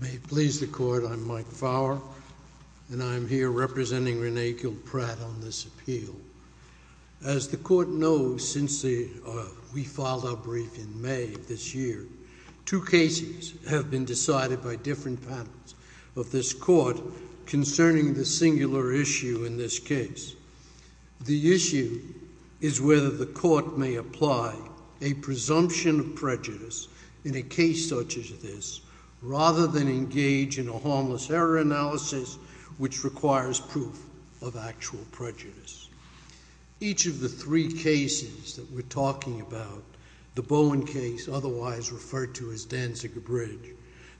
May it please the Court, I'm Mike Fowler, and I'm here representing Renee Kiel Pratt on this appeal. As the Court knows since we filed our brief in May of this year, two cases have been decided by different panels of this Court concerning the singular issue in this case. The issue is whether the Court may apply a presumption of prejudice in a case such as this rather than engage in a harmless error analysis which requires proof of actual prejudice. Each of the three cases that we're talking about, the Bowen case otherwise referred to as Danziger Bridge,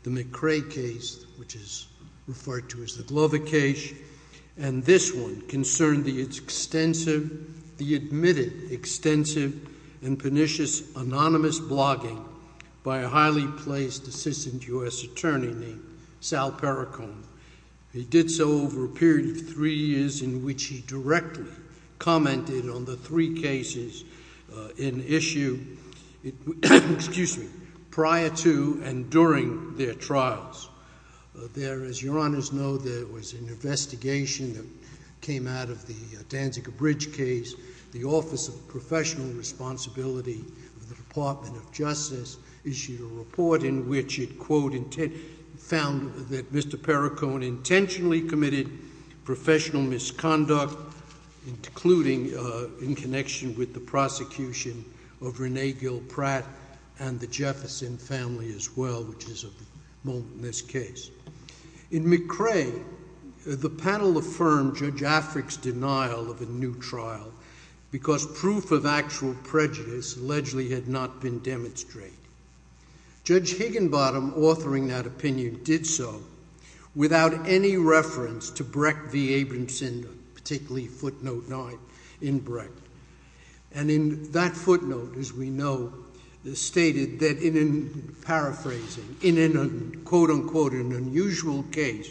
the McCrae case which is referred to as the Glover case, and this one concerned the extensive, the admitted extensive and pernicious anonymous blogging by a highly placed Assistant U.S. Attorney named Sal Perricone. He did so over a period of three years in which he directly commented on the three cases in issue prior to and during their trials. There, as your Honors know, there was an investigation that came out of the Danziger Bridge case. The Office of Professional Responsibility of the Department of Justice issued a report in which it, quote, found that Mr. Perricone intentionally committed professional misconduct including in connection with the prosecution of Renee Gill Pratt and the Jefferson family as well, which is at the moment in this case. In McCrae, the panel affirmed Judge Afric's denial of a new trial because proof of actual prejudice allegedly had not been demonstrated. Judge Higginbottom authoring that opinion did so without any reference to Brecht v. Abramson, particularly footnote nine in Brecht. And in that footnote, as we know, stated that in paraphrasing, in an, quote, unquote, an unusual case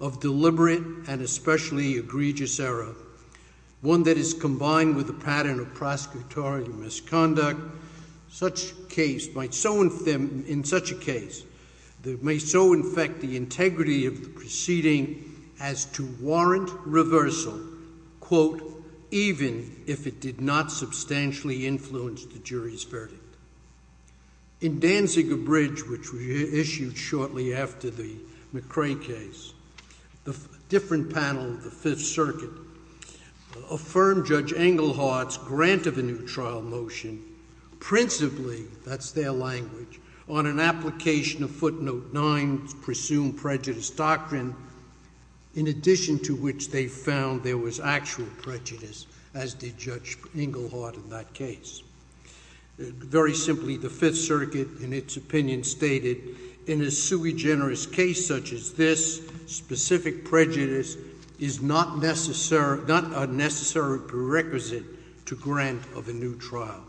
of deliberate and especially egregious error, one that is combined with a pattern of prosecutorial misconduct, such case might so, in such a case, may so infect the integrity of the proceeding as to warrant reversal, quote, even if it did not substantially influence the jury's verdict. In Danziger Bridge, which we issued shortly after the McCrae case, the different panel of the Fifth Circuit affirmed Judge Englehardt's grant of a new trial motion principally, that's their language, on an application of footnote nine's presumed prejudice doctrine, in addition to which they found there was actual prejudice, as did Judge Englehardt in that case. Very simply, the Fifth Circuit, in its opinion, stated, in a sui generis case such as this, specific prejudice is not necessary, not a necessary prerequisite to grant of a new trial.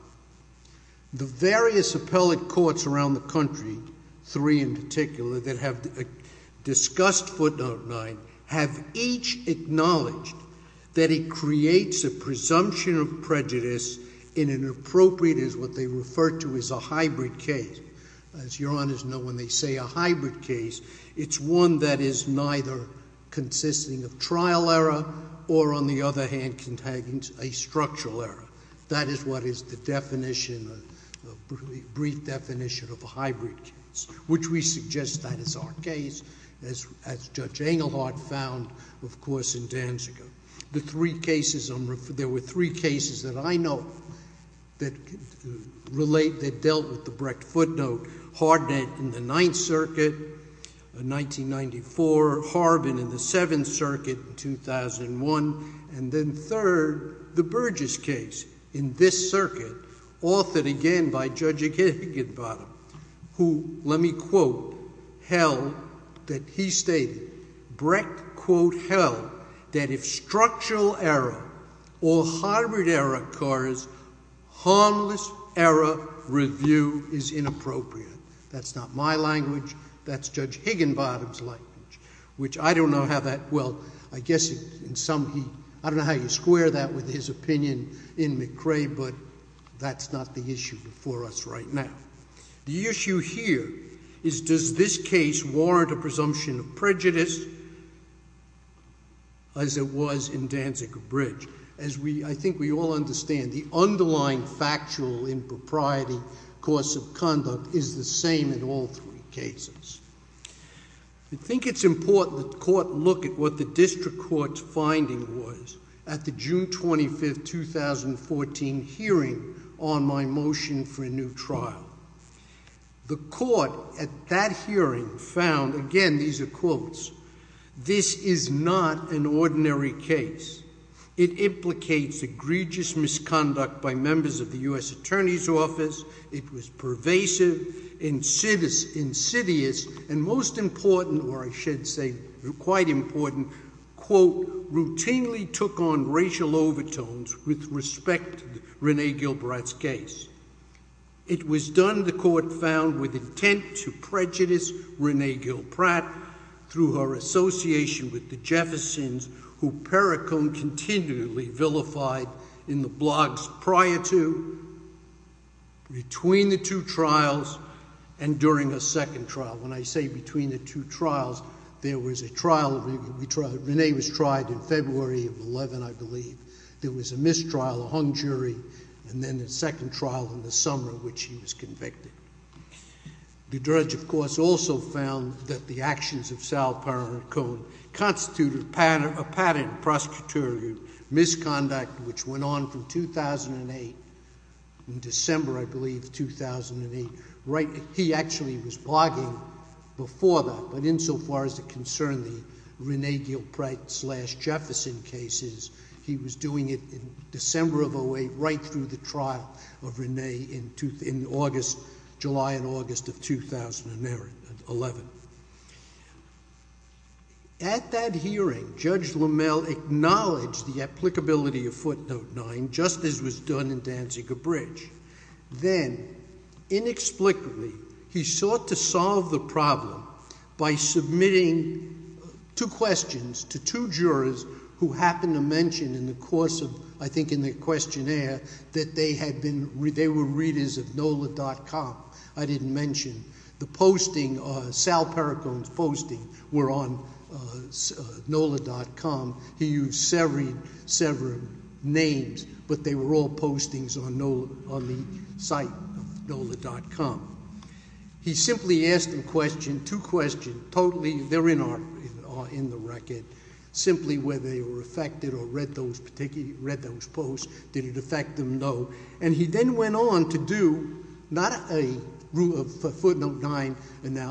The various appellate courts around the country, three in particular, that have discussed footnote nine, have each acknowledged that it creates a presumption of prejudice in an appropriate, as what they refer to as a hybrid case. As your honors know, when they say a hybrid case, it's one that is neither consisting of trial error or, on the other hand, contains a structural error. That is what is the definition, a brief definition of a hybrid case, which we suggest that is our case, as Judge Englehardt found, of course, in Danziger. The three cases, there were three cases that I know that relate, that dealt with the Brecht footnote, Hardnett in the Ninth Circuit in 1994, Harbin in the Seventh Circuit in Higginbottom, who, let me quote, held that he stated, Brecht, quote, held that if structural error or hybrid error occurs, harmless error review is inappropriate. That's not my language, that's Judge Higginbottom's language, which I don't know how that, well, I guess in some, I don't know how you The issue here is does this case warrant a presumption of prejudice as it was in Danziger-Brecht? As we, I think we all understand, the underlying factual impropriety, course of conduct is the same in all three cases. I think it's important that the Court look at what the District Court's finding was at the June 25th, 2014 hearing on my motion for a new trial. The Court, at that hearing, found, again, these are quotes, this is not an ordinary case. It implicates egregious misconduct by members of the U.S. Attorney's Office. It was pervasive, insidious, and most important, or I should say quite important, quote, routinely took on racial overtones with respect to Rene Gilbride's case. It was done, the Court found, with intent to prejudice Rene Gilbride through her association with the Jeffersons who Perricone continually vilified in the blogs prior to, between the two trials, and during a trial, Rene was tried in February of 11, I believe. There was a mistrial, a hung jury, and then a second trial in the summer in which he was convicted. The judge, of course, also found that the actions of Sal Perricone constituted a patent prosecutorial misconduct which went on from 2008, in December, I think, as far as it concerned the Rene Gilbride slash Jefferson cases. He was doing it in December of 08, right through the trial of Rene in August, July and August of 2011. At that hearing, Judge Lamel acknowledged the applicability of Footnote 9, just as was done in Danzig-Gabridge. Then, inexplicably, he sought to solve the problem by submitting two questions to two jurors who happened to mention in the course of, I think, in their questionnaire that they had been, they were readers of NOLA.com. I didn't mention the posting, Sal Perricone's posting were on NOLA.com. He used several names, but they were all postings on the site of NOLA.com. He simply asked them two questions, totally, they're in the record, simply whether they were affected or read those posts, did it affect them? No. And he then went on to do, not a Footnote 9,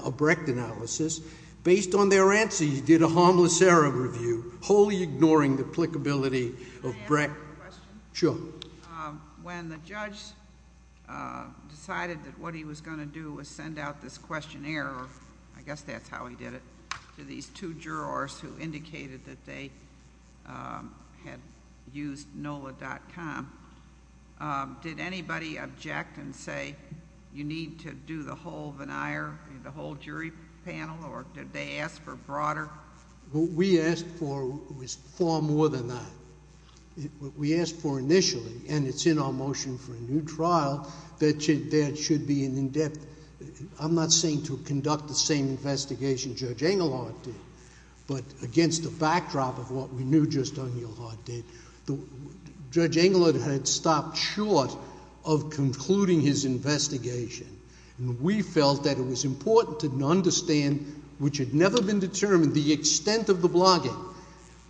a Brecht analysis. Based on their did a harmless error review, wholly ignoring the applicability of Brecht. Can I ask a question? Sure. When the judge decided that what he was going to do was send out this questionnaire, I guess that's how he did it, to these two jurors who indicated that they had used NOLA.com, did anybody object and say, you need to do the whole veneer, the whole jury panel, or did they ask for broader? What we asked for was far more than that. What we asked for initially, and it's in our motion for a new trial, that there should be an in-depth, I'm not saying to conduct the same investigation Judge Engelhardt did, but against the backdrop of what we knew Judge O'Neill Hart did. Judge Engelhardt had stopped short of concluding his investigation, and we felt that it was important to understand, which had never been determined, the extent of the blogging,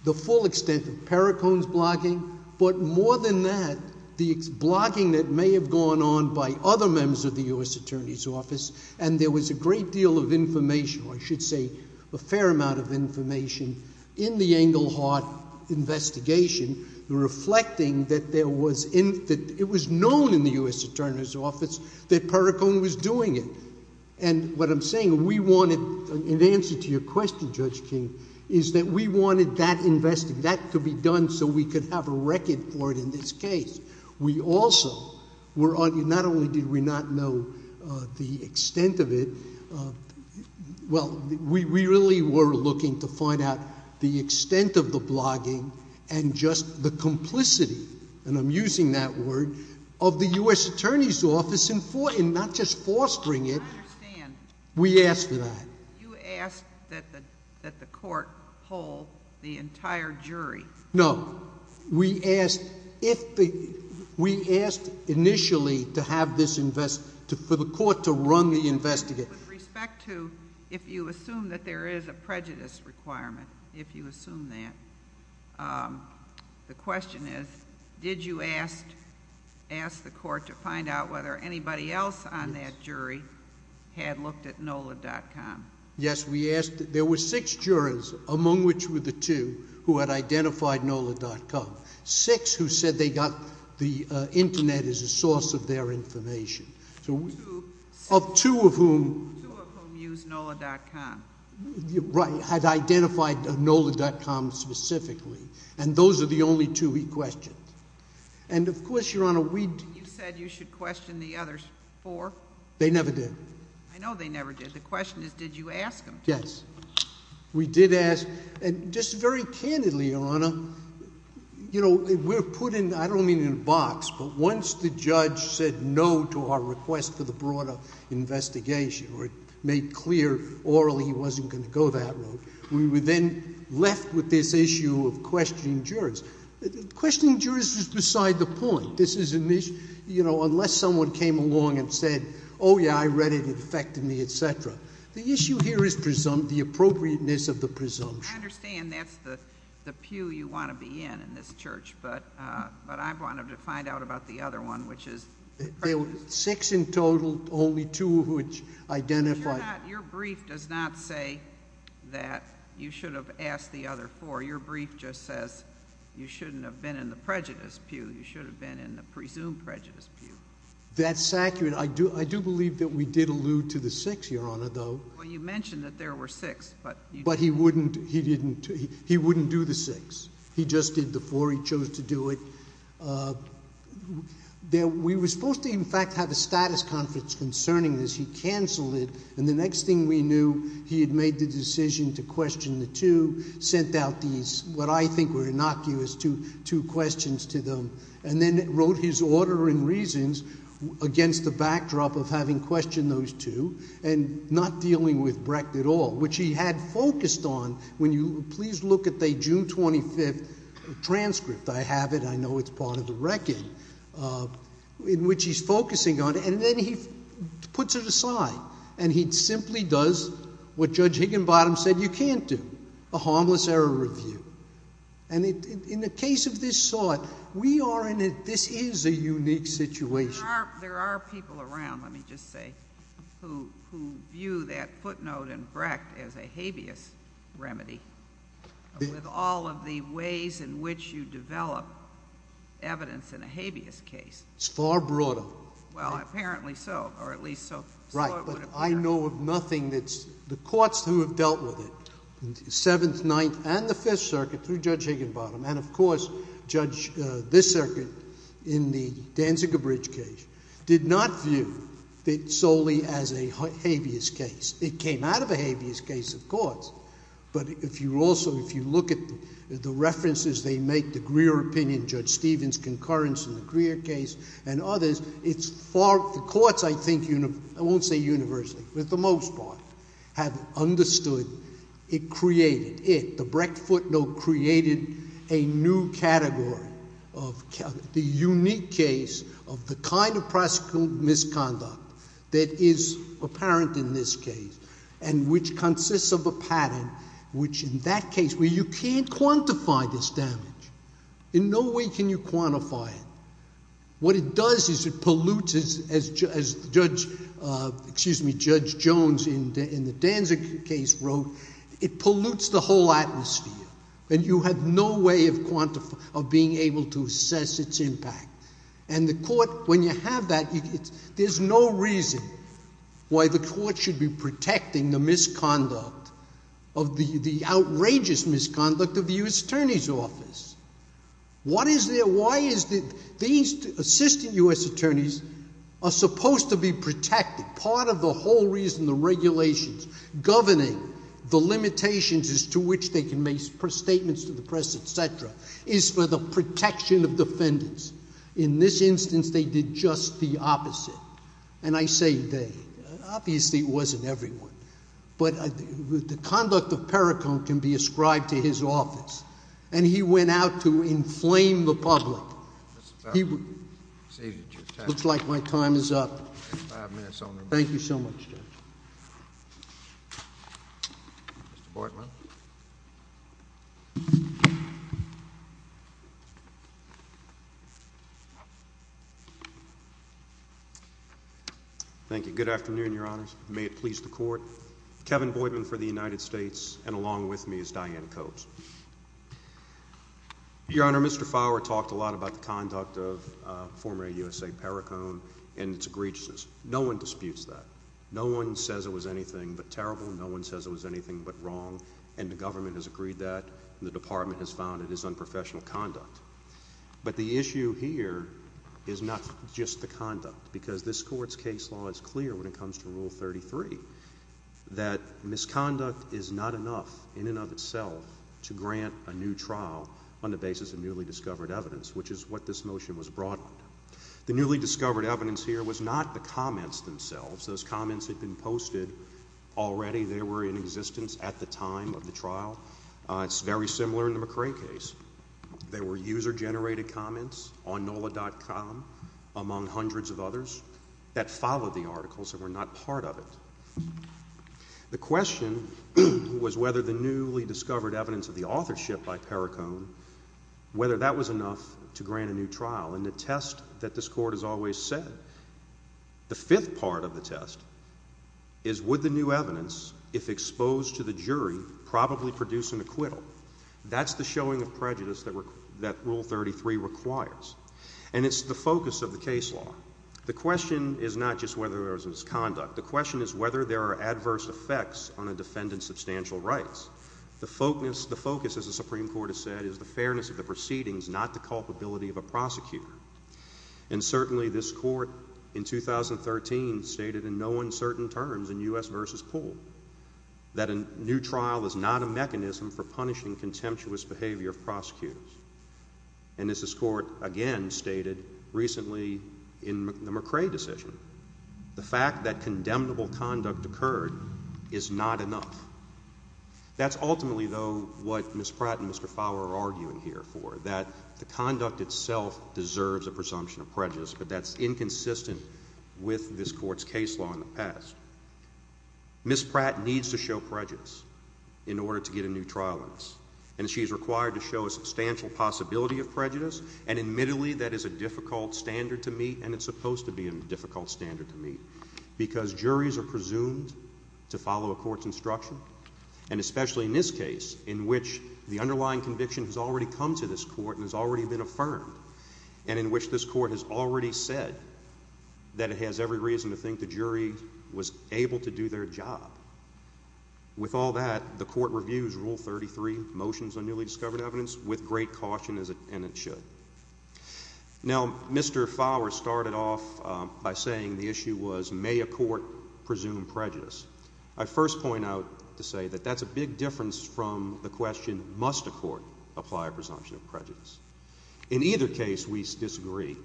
the full extent of Perricone's blogging, but more than that, the blogging that may have gone on by other members of the U.S. Attorney's Office, and there was a great deal of information, or I should say, a fair amount of information, in the Engelhardt investigation, reflecting that it was known in the U.S. Attorney's Office that Perricone was doing it. And what I'm saying, we wanted, in answer to your question, Judge King, is that we wanted that investigation, that to be done so we could have a record for it in this case. We also were, not only did we not know the extent of it, well, we really were looking to find out the extent of blogging and just the complicity, and I'm using that word, of the U.S. Attorney's Office in not just fostering it. I understand. We asked for that. You asked that the court hold the entire jury. No. We asked initially for the court to run the investigation. With respect to, if you assume that there is a prejudice requirement, if you assume that, the question is, did you ask the court to find out whether anybody else on that jury had looked at NOLA.com? Yes, we asked. There were six jurors, among which were the two, who had identified NOLA.com. Six who said they got the internet as a source of their information. Two. Of two of whom. Two of whom used NOLA.com. Right, had identified NOLA.com specifically, and those are the only two we questioned. And of course, Your Honor, we. You said you should question the other four. They never did. I know they never did. The question is, did you ask them? Yes. We did ask, and just very candidly, Your Honor, you know, we're put in, I don't mean in a request for the broader investigation, or made clear orally he wasn't going to go that route. We were then left with this issue of questioning jurors. Questioning jurors was beside the point. This is an issue, you know, unless someone came along and said, oh yeah, I read it, it affected me, et cetera. The issue here is presumpt, the appropriateness of the presumption. I understand that's the pew you want to be in, in this church, but I wanted to find out about the other one, which is. There were six in total, only two of which identified. Your brief does not say that you should have asked the other four. Your brief just says you shouldn't have been in the prejudice pew, you should have been in the presumed prejudice pew. That's accurate. I do believe that we did allude to the six, Your Honor, though. Well, you mentioned that there were six, but. But he wouldn't, he didn't, he wouldn't do the six. He just did the four. He chose to do it. We were supposed to, in fact, have a status conference concerning this. He cancelled it, and the next thing we knew, he had made the decision to question the two, sent out these, what I think were innocuous, two questions to them, and then wrote his order and reasons against the backdrop of having questioned those two, and not dealing with Brecht at all, which he had focused on, when you, please look at the June 25th transcript, I have it, I know it's part of the record, in which he's focusing on, and then he puts it aside, and he simply does what Judge Higginbottom said you can't do, a harmless error review. And in the case of this sort, we are in a, this is a unique situation. There are people around, let me just say, who view that footnote in Brecht as a habeas remedy, with all of the ways in which you develop evidence in a habeas case. It's far broader. Well, apparently so, or at least so it would appear. Right, but I know of nothing that's, the courts who have dealt with it, Seventh, Ninth, and the Fifth Circuit, through Judge Higginbottom, and of course, Judge, this circuit, in the Danziger Bridge case, did not view it solely as a habeas case. It came out of a habeas case, of course, but if you also, if you look at the references they make, the Greer opinion, Judge Stevens' concurrence in the Greer case, and others, it's far, the courts, I think, I won't say universally, but for the most part, have understood, it created, it, the Brecht footnote created a new category of, the unique case of the kind of prosecutorial misconduct that is apparent in this case, and which consists of a pattern, which in that case, where you can't quantify this damage, in no way can you quantify it, what it does is it pollutes, as Judge, excuse me, Judge Jones in the Danzig case wrote, it pollutes the whole atmosphere, and you have no way of quantifying, of being able to assess its impact, and the court, when you have that, there's no reason why the court should be protecting the misconduct, of the, the outrageous misconduct of the U.S. Attorney's Office. What is there, why is that these assistant U.S. attorneys are supposed to be protected? Part of the whole reason the regulations governing the limitations as to which they can make statements to the press, etc., is for the protection of defendants. In this instance, they did just the opposite, and I say they, obviously it wasn't everyone, but the conduct of Perricone can be ascribed to his office, and he went out to inflame the public. Looks like my time is up. Thank you so much, Judge. Mr. Boitman. Thank you. Good afternoon, Your Honors. May it please the Court. Kevin Boitman for the United States, and along with me is Diane Copes. Your Honor, Mr. Fowler talked a lot about the conduct of former U.S.A. Perricone and its egregiousness. No one disputes that. No one says it was anything but terrible, no one says it was anything but wrong, and the government has agreed that, and the Department has found it is unprofessional conduct. But the issue here is not just the conduct, because this Court's case law is clear when it comes to Rule 33, that misconduct is not enough, in and of itself, to grant a new trial on the basis of newly discovered evidence, which is what this motion was brought under. The newly discovered evidence here was not the comments themselves. Those comments had been posted already. They were in existence at the time of the trial. It's very similar in the McCrae case. They were user-generated comments on NOLA.com, among hundreds of others, that followed the articles and were not part of it. The question was whether the newly discovered evidence of the authorship by Perricone, whether that was enough to grant a new trial. And the test that this Court has always said, the fifth part of the test, is would the new evidence, if exposed to the jury, probably produce an acquittal? That's the showing of prejudice that Rule 33 requires. And it's the focus of the case law. The question is not just whether there was misconduct. The question is whether there are adverse effects on a defendant's substantial rights. The focus, as the Supreme Court has said, is the fairness of the proceedings, not the culpability of a prosecutor. And certainly this Court in 2013 stated in no uncertain terms in U.S. v. Poole that a new trial is not a mechanism for punishing contemptuous behavior of prosecutors. And as this Court again stated recently in the McCrae decision, the fact that condemnable conduct occurred is not enough. That's ultimately, though, what Ms. Pratt and Mr. Fowler are arguing here for, that the conduct itself deserves a presumption of prejudice, but that's inconsistent with this Court's case law in the past. Ms. Pratt needs to show prejudice in order to get a new trial in this. And she's required to show a substantial possibility of prejudice. And admittedly, that is a difficult standard to meet, and it's supposed to be a difficult standard to meet. But Ms. Pratt and Mr. Fowler are arguing that a new trial is not a mechanism for punishing contemptuous behavior of prosecutors. That's ultimately, though, what Ms. Pratt and Mr. Fowler are arguing here for, that the conduct itself deserves a presumption of prejudice, but that's I first point out to say that that's a big difference from the question, must a court apply a presumption of prejudice? In either case, we disagree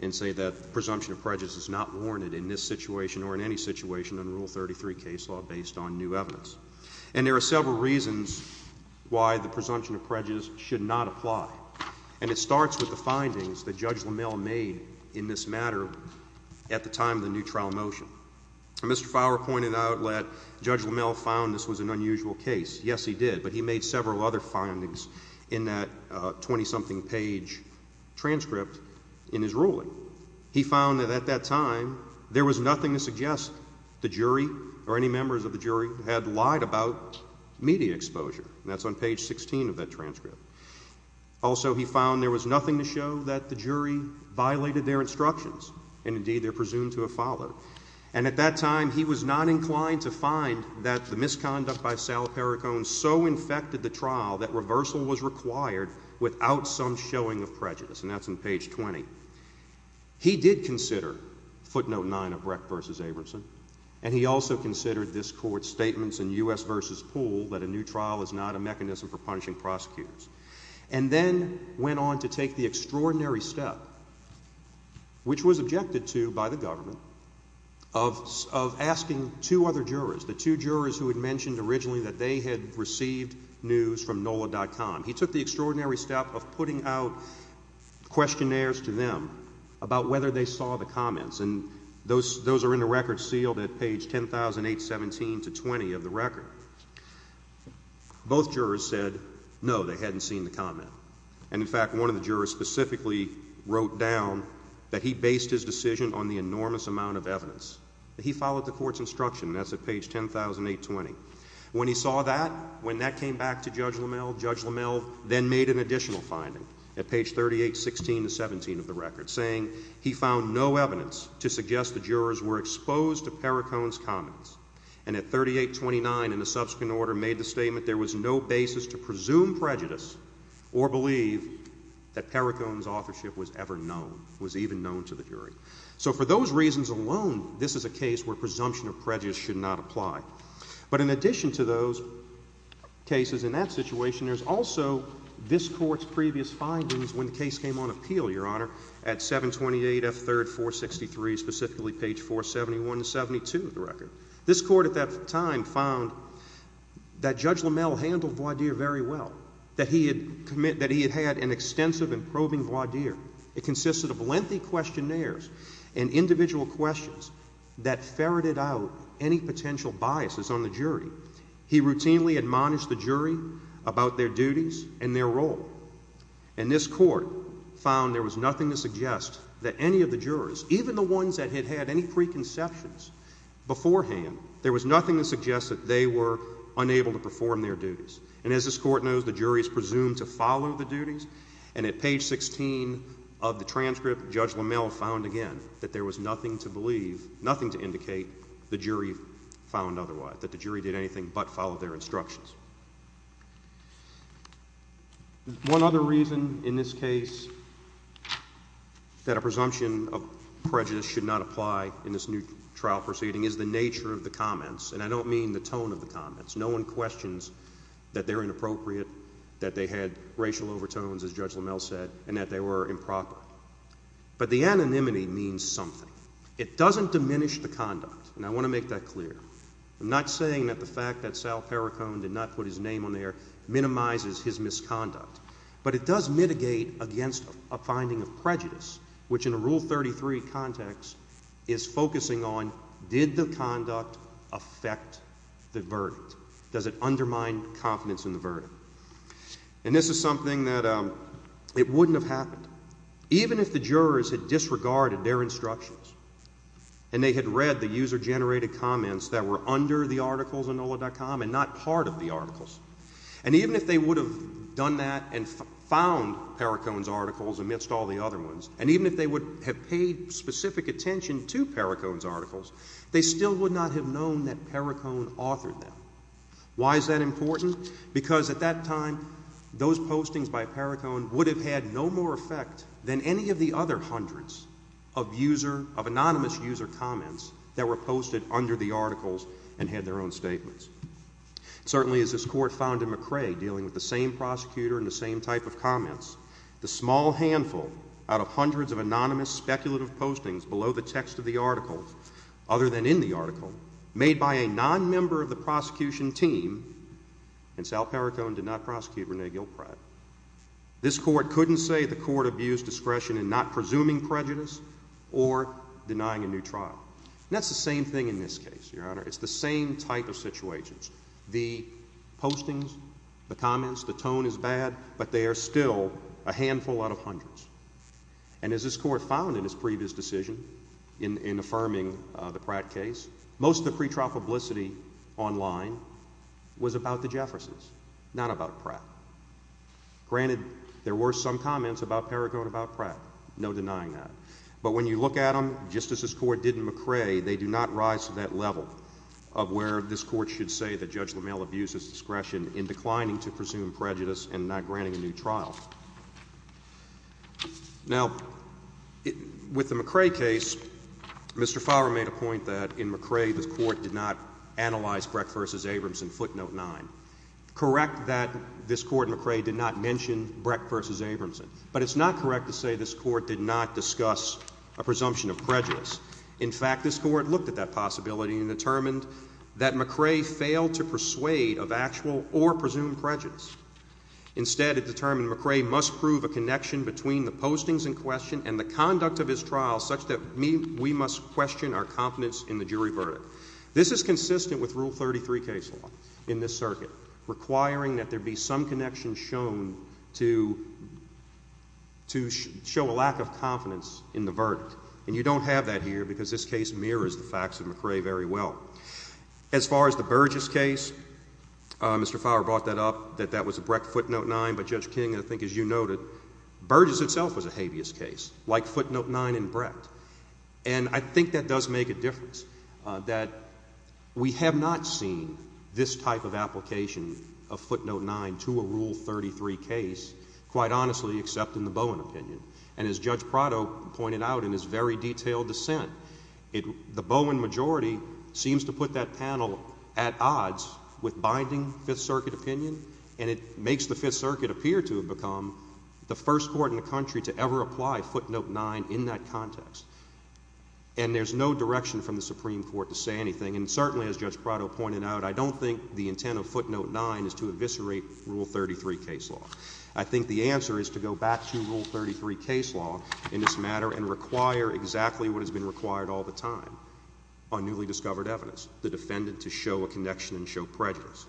and say that presumption of prejudice is not warranted in this situation or in any situation in Rule 33 case law based on new evidence. And there are several reasons why the presumption of prejudice should not apply. And it starts with the findings that Judge LaMalle made in this matter at the time of the new trial motion. Mr. Fowler pointed out that Judge LaMalle found this was an unusual case. Yes, he did, but he made several other findings in that 20-something page transcript in his ruling. He found that at that time, there was nothing to suggest the jury or any members of the jury had lied about media exposure. That's on page 16 of that transcript. Also, he found there was nothing to show that the at that time, he was not inclined to find that the misconduct by Sal Perricone so infected the trial that reversal was required without some showing of prejudice. And that's in page 20. He did consider footnote 9 of Brecht v. Abramson, and he also considered this court's statements in U.S. v. Poole that a new trial is not a mechanism for punishing prosecutors, and then went on to take the extraordinary step, which was objected to by the government, of asking two other jurors, the two jurors who had mentioned originally that they had received news from NOLA.com. He took the extraordinary step of putting out questionnaires to them about whether they saw the comments, and those are in the record sealed at page 10817-20 of the record. Both jurors said no, they hadn't seen the comment. And in fact, one of the jurors specifically wrote down that he based his decision on the enormous amount of evidence. He followed the court's instruction, that's at page 100820. When he saw that, when that came back to Judge LaMelle, Judge LaMelle then made an additional finding at page 3816-17 of the record, saying he found no evidence to suggest the jurors were exposed to Perricone's comments. And at 3829, in a subsequent order, made the statement there was no basis to presume prejudice or believe that Perricone's authorship was ever known, was even known to the jury. So for those reasons alone, this is a case where presumption of prejudice should not apply. But in addition to those cases in that situation, there's also this court's previous findings when the case came on appeal, Your Honor, at 728F3-463, specifically page 471-72 of the record. This court at that time found that Judge LaMelle handled voir dire very well, that he had committed, that he had had an extensive and probing voir dire. It consisted of lengthy questionnaires and individual questions that ferreted out any potential biases on the jury. He routinely admonished the jury about their duties and their role. And this court found there was nothing to suggest that any of the jurors, even the ones that had had any preconceptions beforehand, there was nothing to suggest that they were unable to perform their duties. And as this court knows, the jury is presumed to follow the duties. And at page 16 of the transcript, Judge LaMelle found again that there was nothing to believe, nothing to indicate the jury found otherwise, that the jury did anything but follow their instructions. One other reason in this case that a presumption of prejudice should not apply in this new trial proceeding is the nature of the comments. And I don't mean the tone of the comments. No one questions that they're inappropriate, that they had racial overtones, as Judge LaMelle said, and that they were improper. But the anonymity means something. It doesn't diminish the conduct. And I want to make that clear. I'm not saying that the fact that Sal Perricone did not put his name on there minimizes his misconduct. But it does focus on, did the conduct affect the verdict? Does it undermine confidence in the verdict? And this is something that it wouldn't have happened. Even if the jurors had disregarded their instructions, and they had read the user-generated comments that were under the articles of NOLA.com and not part of the articles, and even if they would have done that and found Perricone's articles amidst all the other ones, and even if they would have paid specific attention to Perricone's articles, they still would not have known that Perricone authored them. Why is that important? Because at that time, those postings by Perricone would have had no more effect than any of the other hundreds of user, of anonymous user comments that were posted under the articles and had their own statements. Certainly, as this Court found in McRae, dealing with the same prosecutor and the same type of comments, the small handful out of hundreds of anonymous speculative postings below the text of the article, other than in the article, made by a non-member of the prosecution team, and Sal Perricone did not prosecute Rene Gilpride, this Court couldn't say the Court abused discretion in not presuming prejudice or denying a new trial. And that's the same thing in this case, Your Honor. It's the same type of situations. The postings, the comments, the tone is bad, but they are still a handful out of hundreds. And as this Court found in its previous decision in affirming the Pratt case, most of the pretrial publicity online was about the Jeffersons, not about Pratt. Granted, there were some comments about Perricone about Pratt, no denying that. But when you look at them, just as this Court did in McRae, they do not rise to that level of where this Court should say that Judge LaMalle abused his discretion in declining to presume prejudice and not granting a new trial. Now, with the McRae case, Mr. Favre made a point that in McRae the Court did not analyze Brecht v. Abramson, footnote 9. Correct that this Court in McRae did not mention Brecht v. Abramson, but it's not correct to say this Court did not discuss a presumption of prejudice. In fact, this Court looked at that possibility and determined that McRae failed to persuade of actual or presumed prejudice. Instead, it determined McRae must prove a connection between the postings in question and the conduct of his trial such that we must question our confidence in the jury verdict. This is consistent with Rule 33 case law in this circuit, requiring that there be some connection shown to show a lack of confidence in the verdict. And you don't have that here because this case mirrors the facts of McRae very well. As far as the Burgess case, Mr. Favre brought that up, that that was a Brecht footnote 9. But Judge King, I think as you noted, Burgess itself was a habeas case, like footnote 9 in Brecht. And I think that does make a difference, that we have not seen this type of application of footnote 9 to a Rule 33 case, quite honestly, except in the Bowen opinion. And as Judge Prado pointed out in his very detailed dissent, the Bowen majority seems to put that panel at odds with binding Fifth Circuit opinion, and it makes the Fifth Circuit appear to have become the first court in the country to ever apply footnote 9 in that context. And there's no direction from the Supreme Court to say anything. And certainly, as Judge Prado pointed out, I don't think the intent of footnote 9 is to eviscerate Rule 33 case law. I think the intent of footnote 9 is to eviscerate this matter and require exactly what has been required all the time, on newly discovered evidence, the defendant to show a connection and show prejudice.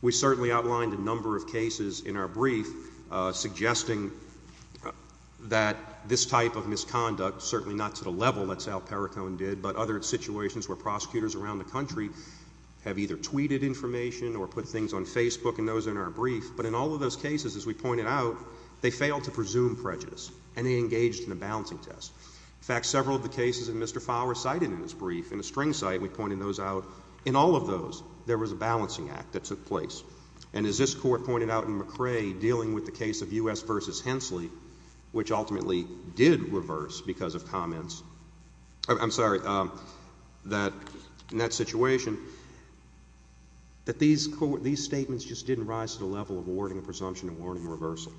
We certainly outlined a number of cases in our brief, suggesting that this type of misconduct, certainly not to the level that Sal Perricone did, but other situations where prosecutors around the country have either tweeted information or put things on Facebook and those are in our brief. But in all of those cases, as we pointed out, they failed to presume prejudice and they engaged in a balancing test. In fact, several of the cases that Mr. Fowler cited in his brief, in a string site, we pointed those out, in all of those, there was a balancing act that took place. And as this court pointed out in McCrae, dealing with the case of U.S. v. Hensley, which ultimately did reverse because of comments, I'm sorry, in that situation, that these statements just didn't rise to the level of awarding a presumption and awarding a reversal.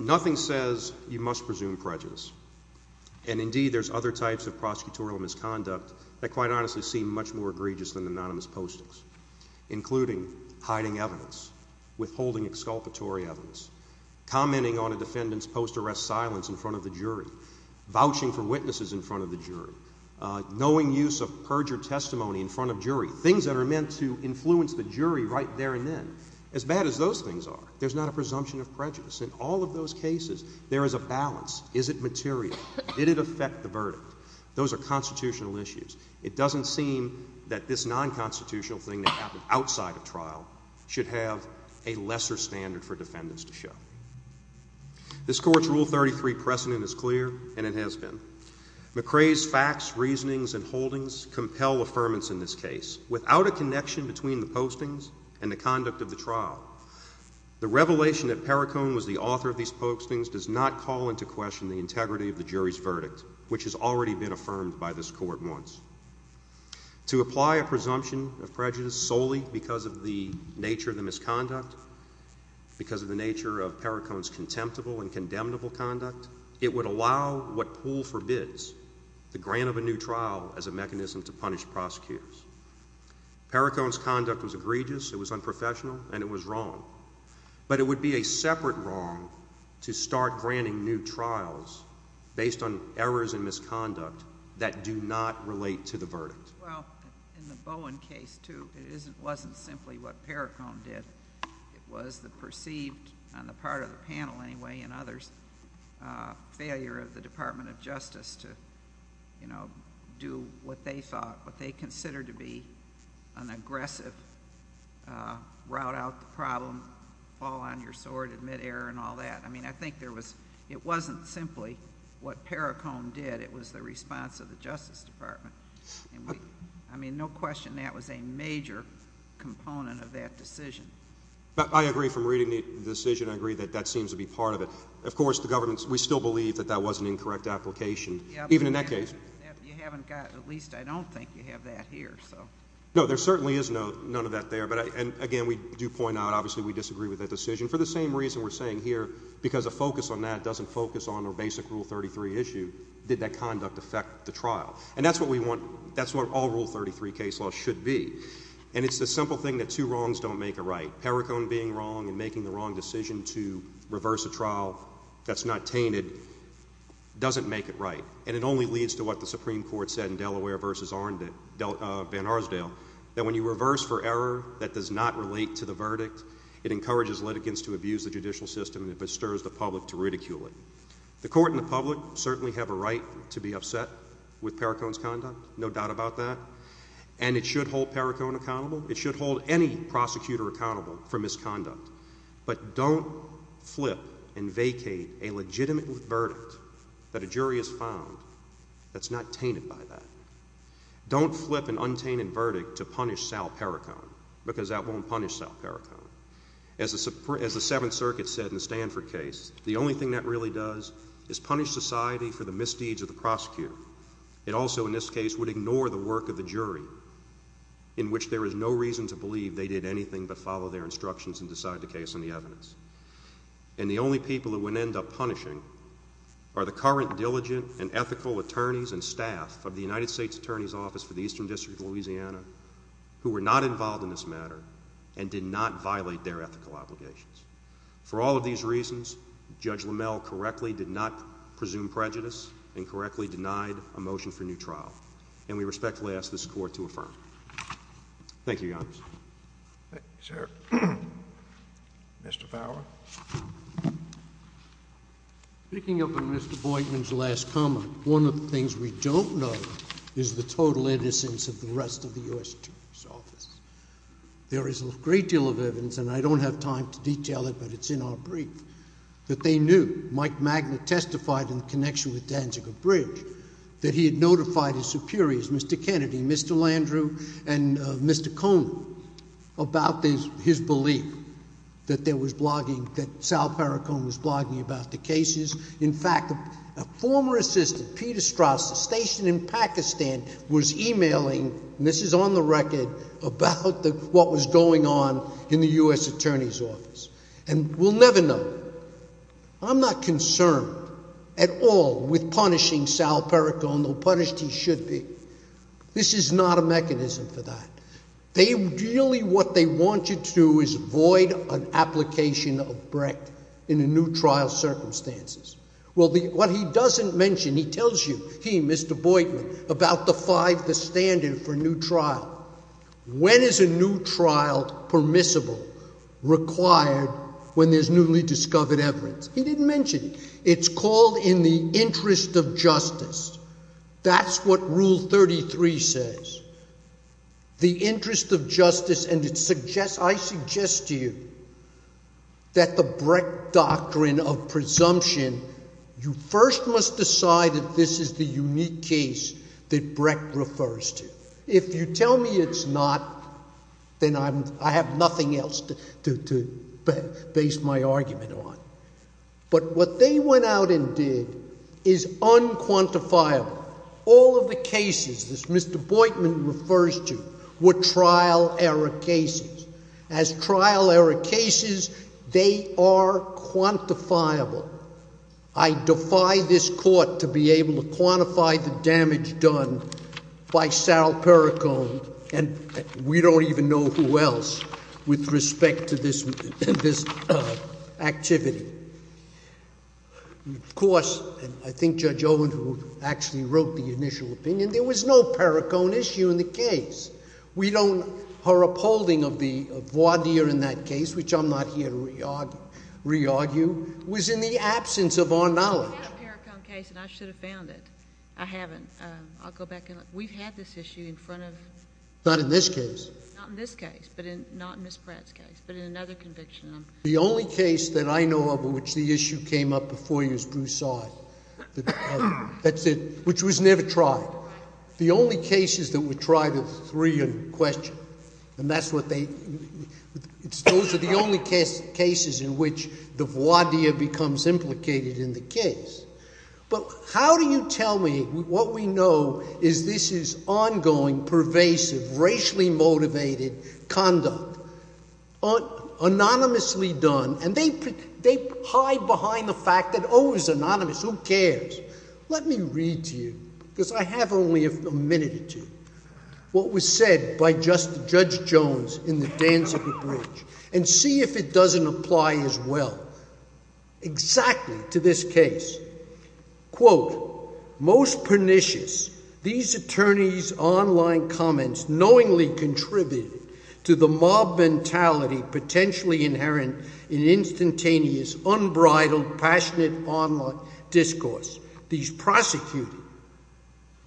Nothing says you must presume prejudice. And indeed, there's other types of prosecutorial misconduct that quite honestly seem much more egregious than anonymous postings, including hiding evidence, withholding exculpatory evidence, commenting on a defendant's post-arrest silence in front of the jury, vouching for witnesses in front of the jury, knowing use of perjured testimony in front of jury, things that are meant to influence the jury right there and then. As bad as those things are, there's not a presumption of prejudice. In all of those cases, there is a balance. Is it material? Did it affect the verdict? Those are constitutional issues. It doesn't seem that this non-constitutional thing that happened outside of trial should have a lesser standard for defendants to show. This Court's Rule 33 precedent is clear, and it has been. McCrae's facts, reasonings, and holdings compel affirmance in this case. Without a connection between the postings and the conduct of the trial, the revelation that Perricone was the author of these postings does not call into question the integrity of the jury's verdict, which has already been affirmed by this Court once. To apply a presumption of prejudice solely because of the nature of the misconduct, because of the nature of Perricone's contemptible and condemnable conduct, it would allow what Poole forbids, the grant of a new trial as a mechanism to punish prosecutors. Perricone's conduct was egregious, it was unprofessional, and it was wrong. But it would be a separate wrong to start granting new trials based on errors and misconduct that do not relate to the verdict. Well, in the Bowen case, too, it wasn't simply what Perricone did. It was the perceived, on the part of the panel anyway and others, failure of the Department of Justice to, you know, do what they thought, what they considered to be an aggressive route out the problem, fall on your sword, admit error, and all that. I mean, I think there was, it wasn't simply what Perricone did. It was the response of the Justice Department. I mean, no question that was a major component of that decision. I agree from reading the decision. I agree that that seems to be part of it. Of course, the government, we still believe that was an incorrect application, even in that case. You haven't got, at least I don't think you have that here, so. No, there certainly is none of that there. And again, we do point out, obviously, we disagree with that decision. For the same reason we're saying here, because a focus on that doesn't focus on a basic Rule 33 issue, did that conduct affect the trial? And that's what all Rule 33 case law should be. And it's the simple thing that two wrongs don't make a right. Perricone being wrong and making the wrong decision to reverse a trial that's not tainted, doesn't make it right. And it only leads to what the Supreme Court said in Delaware versus Van Arsdale, that when you reverse for error that does not relate to the verdict, it encourages litigants to abuse the judicial system and it bestirs the public to ridicule it. The court and the public certainly have a right to be upset with Perricone's conduct, no doubt about that. And it should hold Perricone accountable. It should hold any prosecutor accountable for that a jury is found that's not tainted by that. Don't flip an untainted verdict to punish Sal Perricone, because that won't punish Sal Perricone. As the Seventh Circuit said in the Stanford case, the only thing that really does is punish society for the misdeeds of the prosecutor. It also, in this case, would ignore the work of the jury, in which there is no reason to believe they did anything but follow their instructions and decide the case and the evidence. And the only people that would end up punishing are the current diligent and ethical attorneys and staff of the United States Attorney's Office for the Eastern District of Louisiana, who were not involved in this matter and did not violate their ethical obligations. For all of these reasons, Judge LaMelle correctly did not presume prejudice and correctly denied a motion for new trial. And we respectfully ask this court to affirm. Thank you, Your Honor. Thank you, sir. Mr. Fowler. Speaking of Mr. Boydman's last comment, one of the things we don't know is the total innocence of the rest of the U.S. Attorney's Office. There is a great deal of evidence, and I don't have time to detail it, but it's in our brief, that they knew Mike Magnet testified in connection with Danziger Bridge that he had notified his superiors, Mr. Kennedy, Mr. Landrieu, and Mr. Cohn about his belief that Sal Perricone was blogging about the cases. In fact, a former assistant, Peter Straus, stationed in Pakistan, was emailing, and this is on the record, about what was going on in the U.S. Attorney's Office. And we'll never know. I'm not concerned at all with punishing Sal Perricone, though punished he should be. This is not a mechanism for that. They really, what they want you to do is void an application of Brecht in a new trial circumstances. Well, what he doesn't mention, he tells you, he, Mr. Boydman, about the five, the standard for new trial. When is a new trial permissible, required when there's newly discovered evidence? He didn't mention. It's called in the interest of justice. That's what Rule 33 says. The interest of justice, and it suggests, I suggest to you, that the Brecht doctrine of presumption, you first must decide that this is the unique case that Brecht refers to. If you tell me it's not, then I have nothing else to base my argument on. But what they went out and did is unquantifiable. All of the cases that Mr. Boydman refers to were trial error cases. As trial error cases, they are quantifiable. I defy this court to be able to quantify the damage done by Sal Perricone, and we don't even know who else, with respect to this activity. Of course, I think Judge Owen, who actually wrote the initial opinion, there was no Perricone issue in the case. We don't, her upholding of the voir dire in that case, which I'm not here to re-argue, was in the absence of our knowledge. I have a Perricone case, and I should have found it. I haven't. I'll go back and look. We've had this issue in front of— Not in this case. Not in this case, but not in Ms. Pratt's case, but in another conviction. The only case that I know of in which the issue came up before you is Broussard, that's it, which was never tried. The only cases that were tried are the three in question, and those are the only cases in which the voir dire becomes implicated in the case. How do you tell me what we know is this is ongoing, pervasive, racially motivated conduct, anonymously done, and they hide behind the fact that, oh, it was anonymous, who cares? Let me read to you, because I have only a minute or two, what was said by Judge Jones in the dance of the bridge, and see if it doesn't apply as well exactly to this case. Most pernicious, these attorneys' online comments knowingly contributed to the mob mentality potentially inherent in instantaneous, unbridled, passionate online discourse. These prosecutors,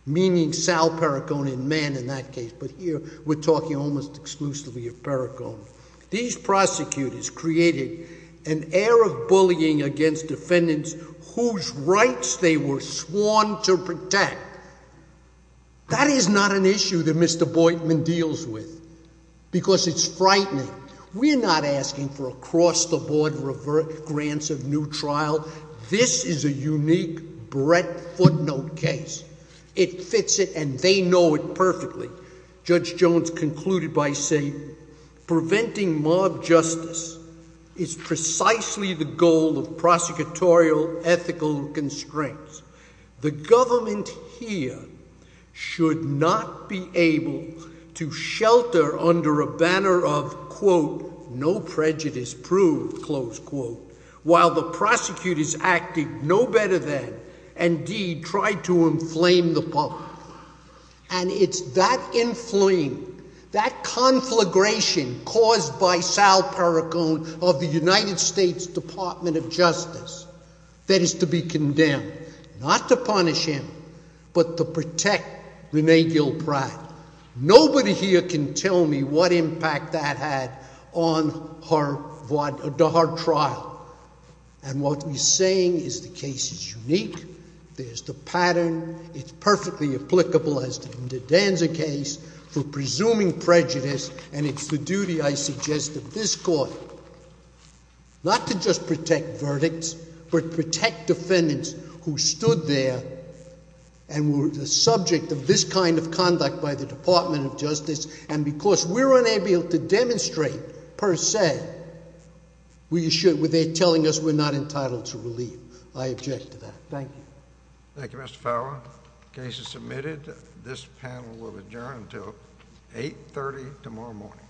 meaning Sal Perricone in man in that case, but here we're talking almost exclusively of Perricone, these prosecutors created an air of bullying against defendants whose rights they were sworn to protect. That is not an issue that Mr. Boitman deals with, because it's frightening. We're not asking for across the board grants of new trial. This is a unique Brett footnote case. It fits it, and they know it perfectly. Judge Jones concluded by saying, preventing mob justice is precisely the goal of prosecutorial ethical constraints. The government here should not be able to shelter under a banner of, quote, no prejudice proved, close quote, while the prosecutors acting no better than, indeed, try to inflame the public. And it's that inflame, that conflagration caused by Sal that is to be condemned, not to punish him, but to protect Rene Gill Pratt. Nobody here can tell me what impact that had on her trial. And what he's saying is the case is unique. There's the pattern. It's perfectly applicable as the Inda Danza case for presuming prejudice, and it's the duty, I suggest, of this court not to just protect verdicts, but protect defendants who stood there and were the subject of this kind of conduct by the Department of Justice. And because we're unable to demonstrate, per se, we should, without telling us we're not entitled to relief. I object to that. Thank you. Thank you, Mr. Fowler. The case is submitted. This panel will adjourn until 8.30 tomorrow morning.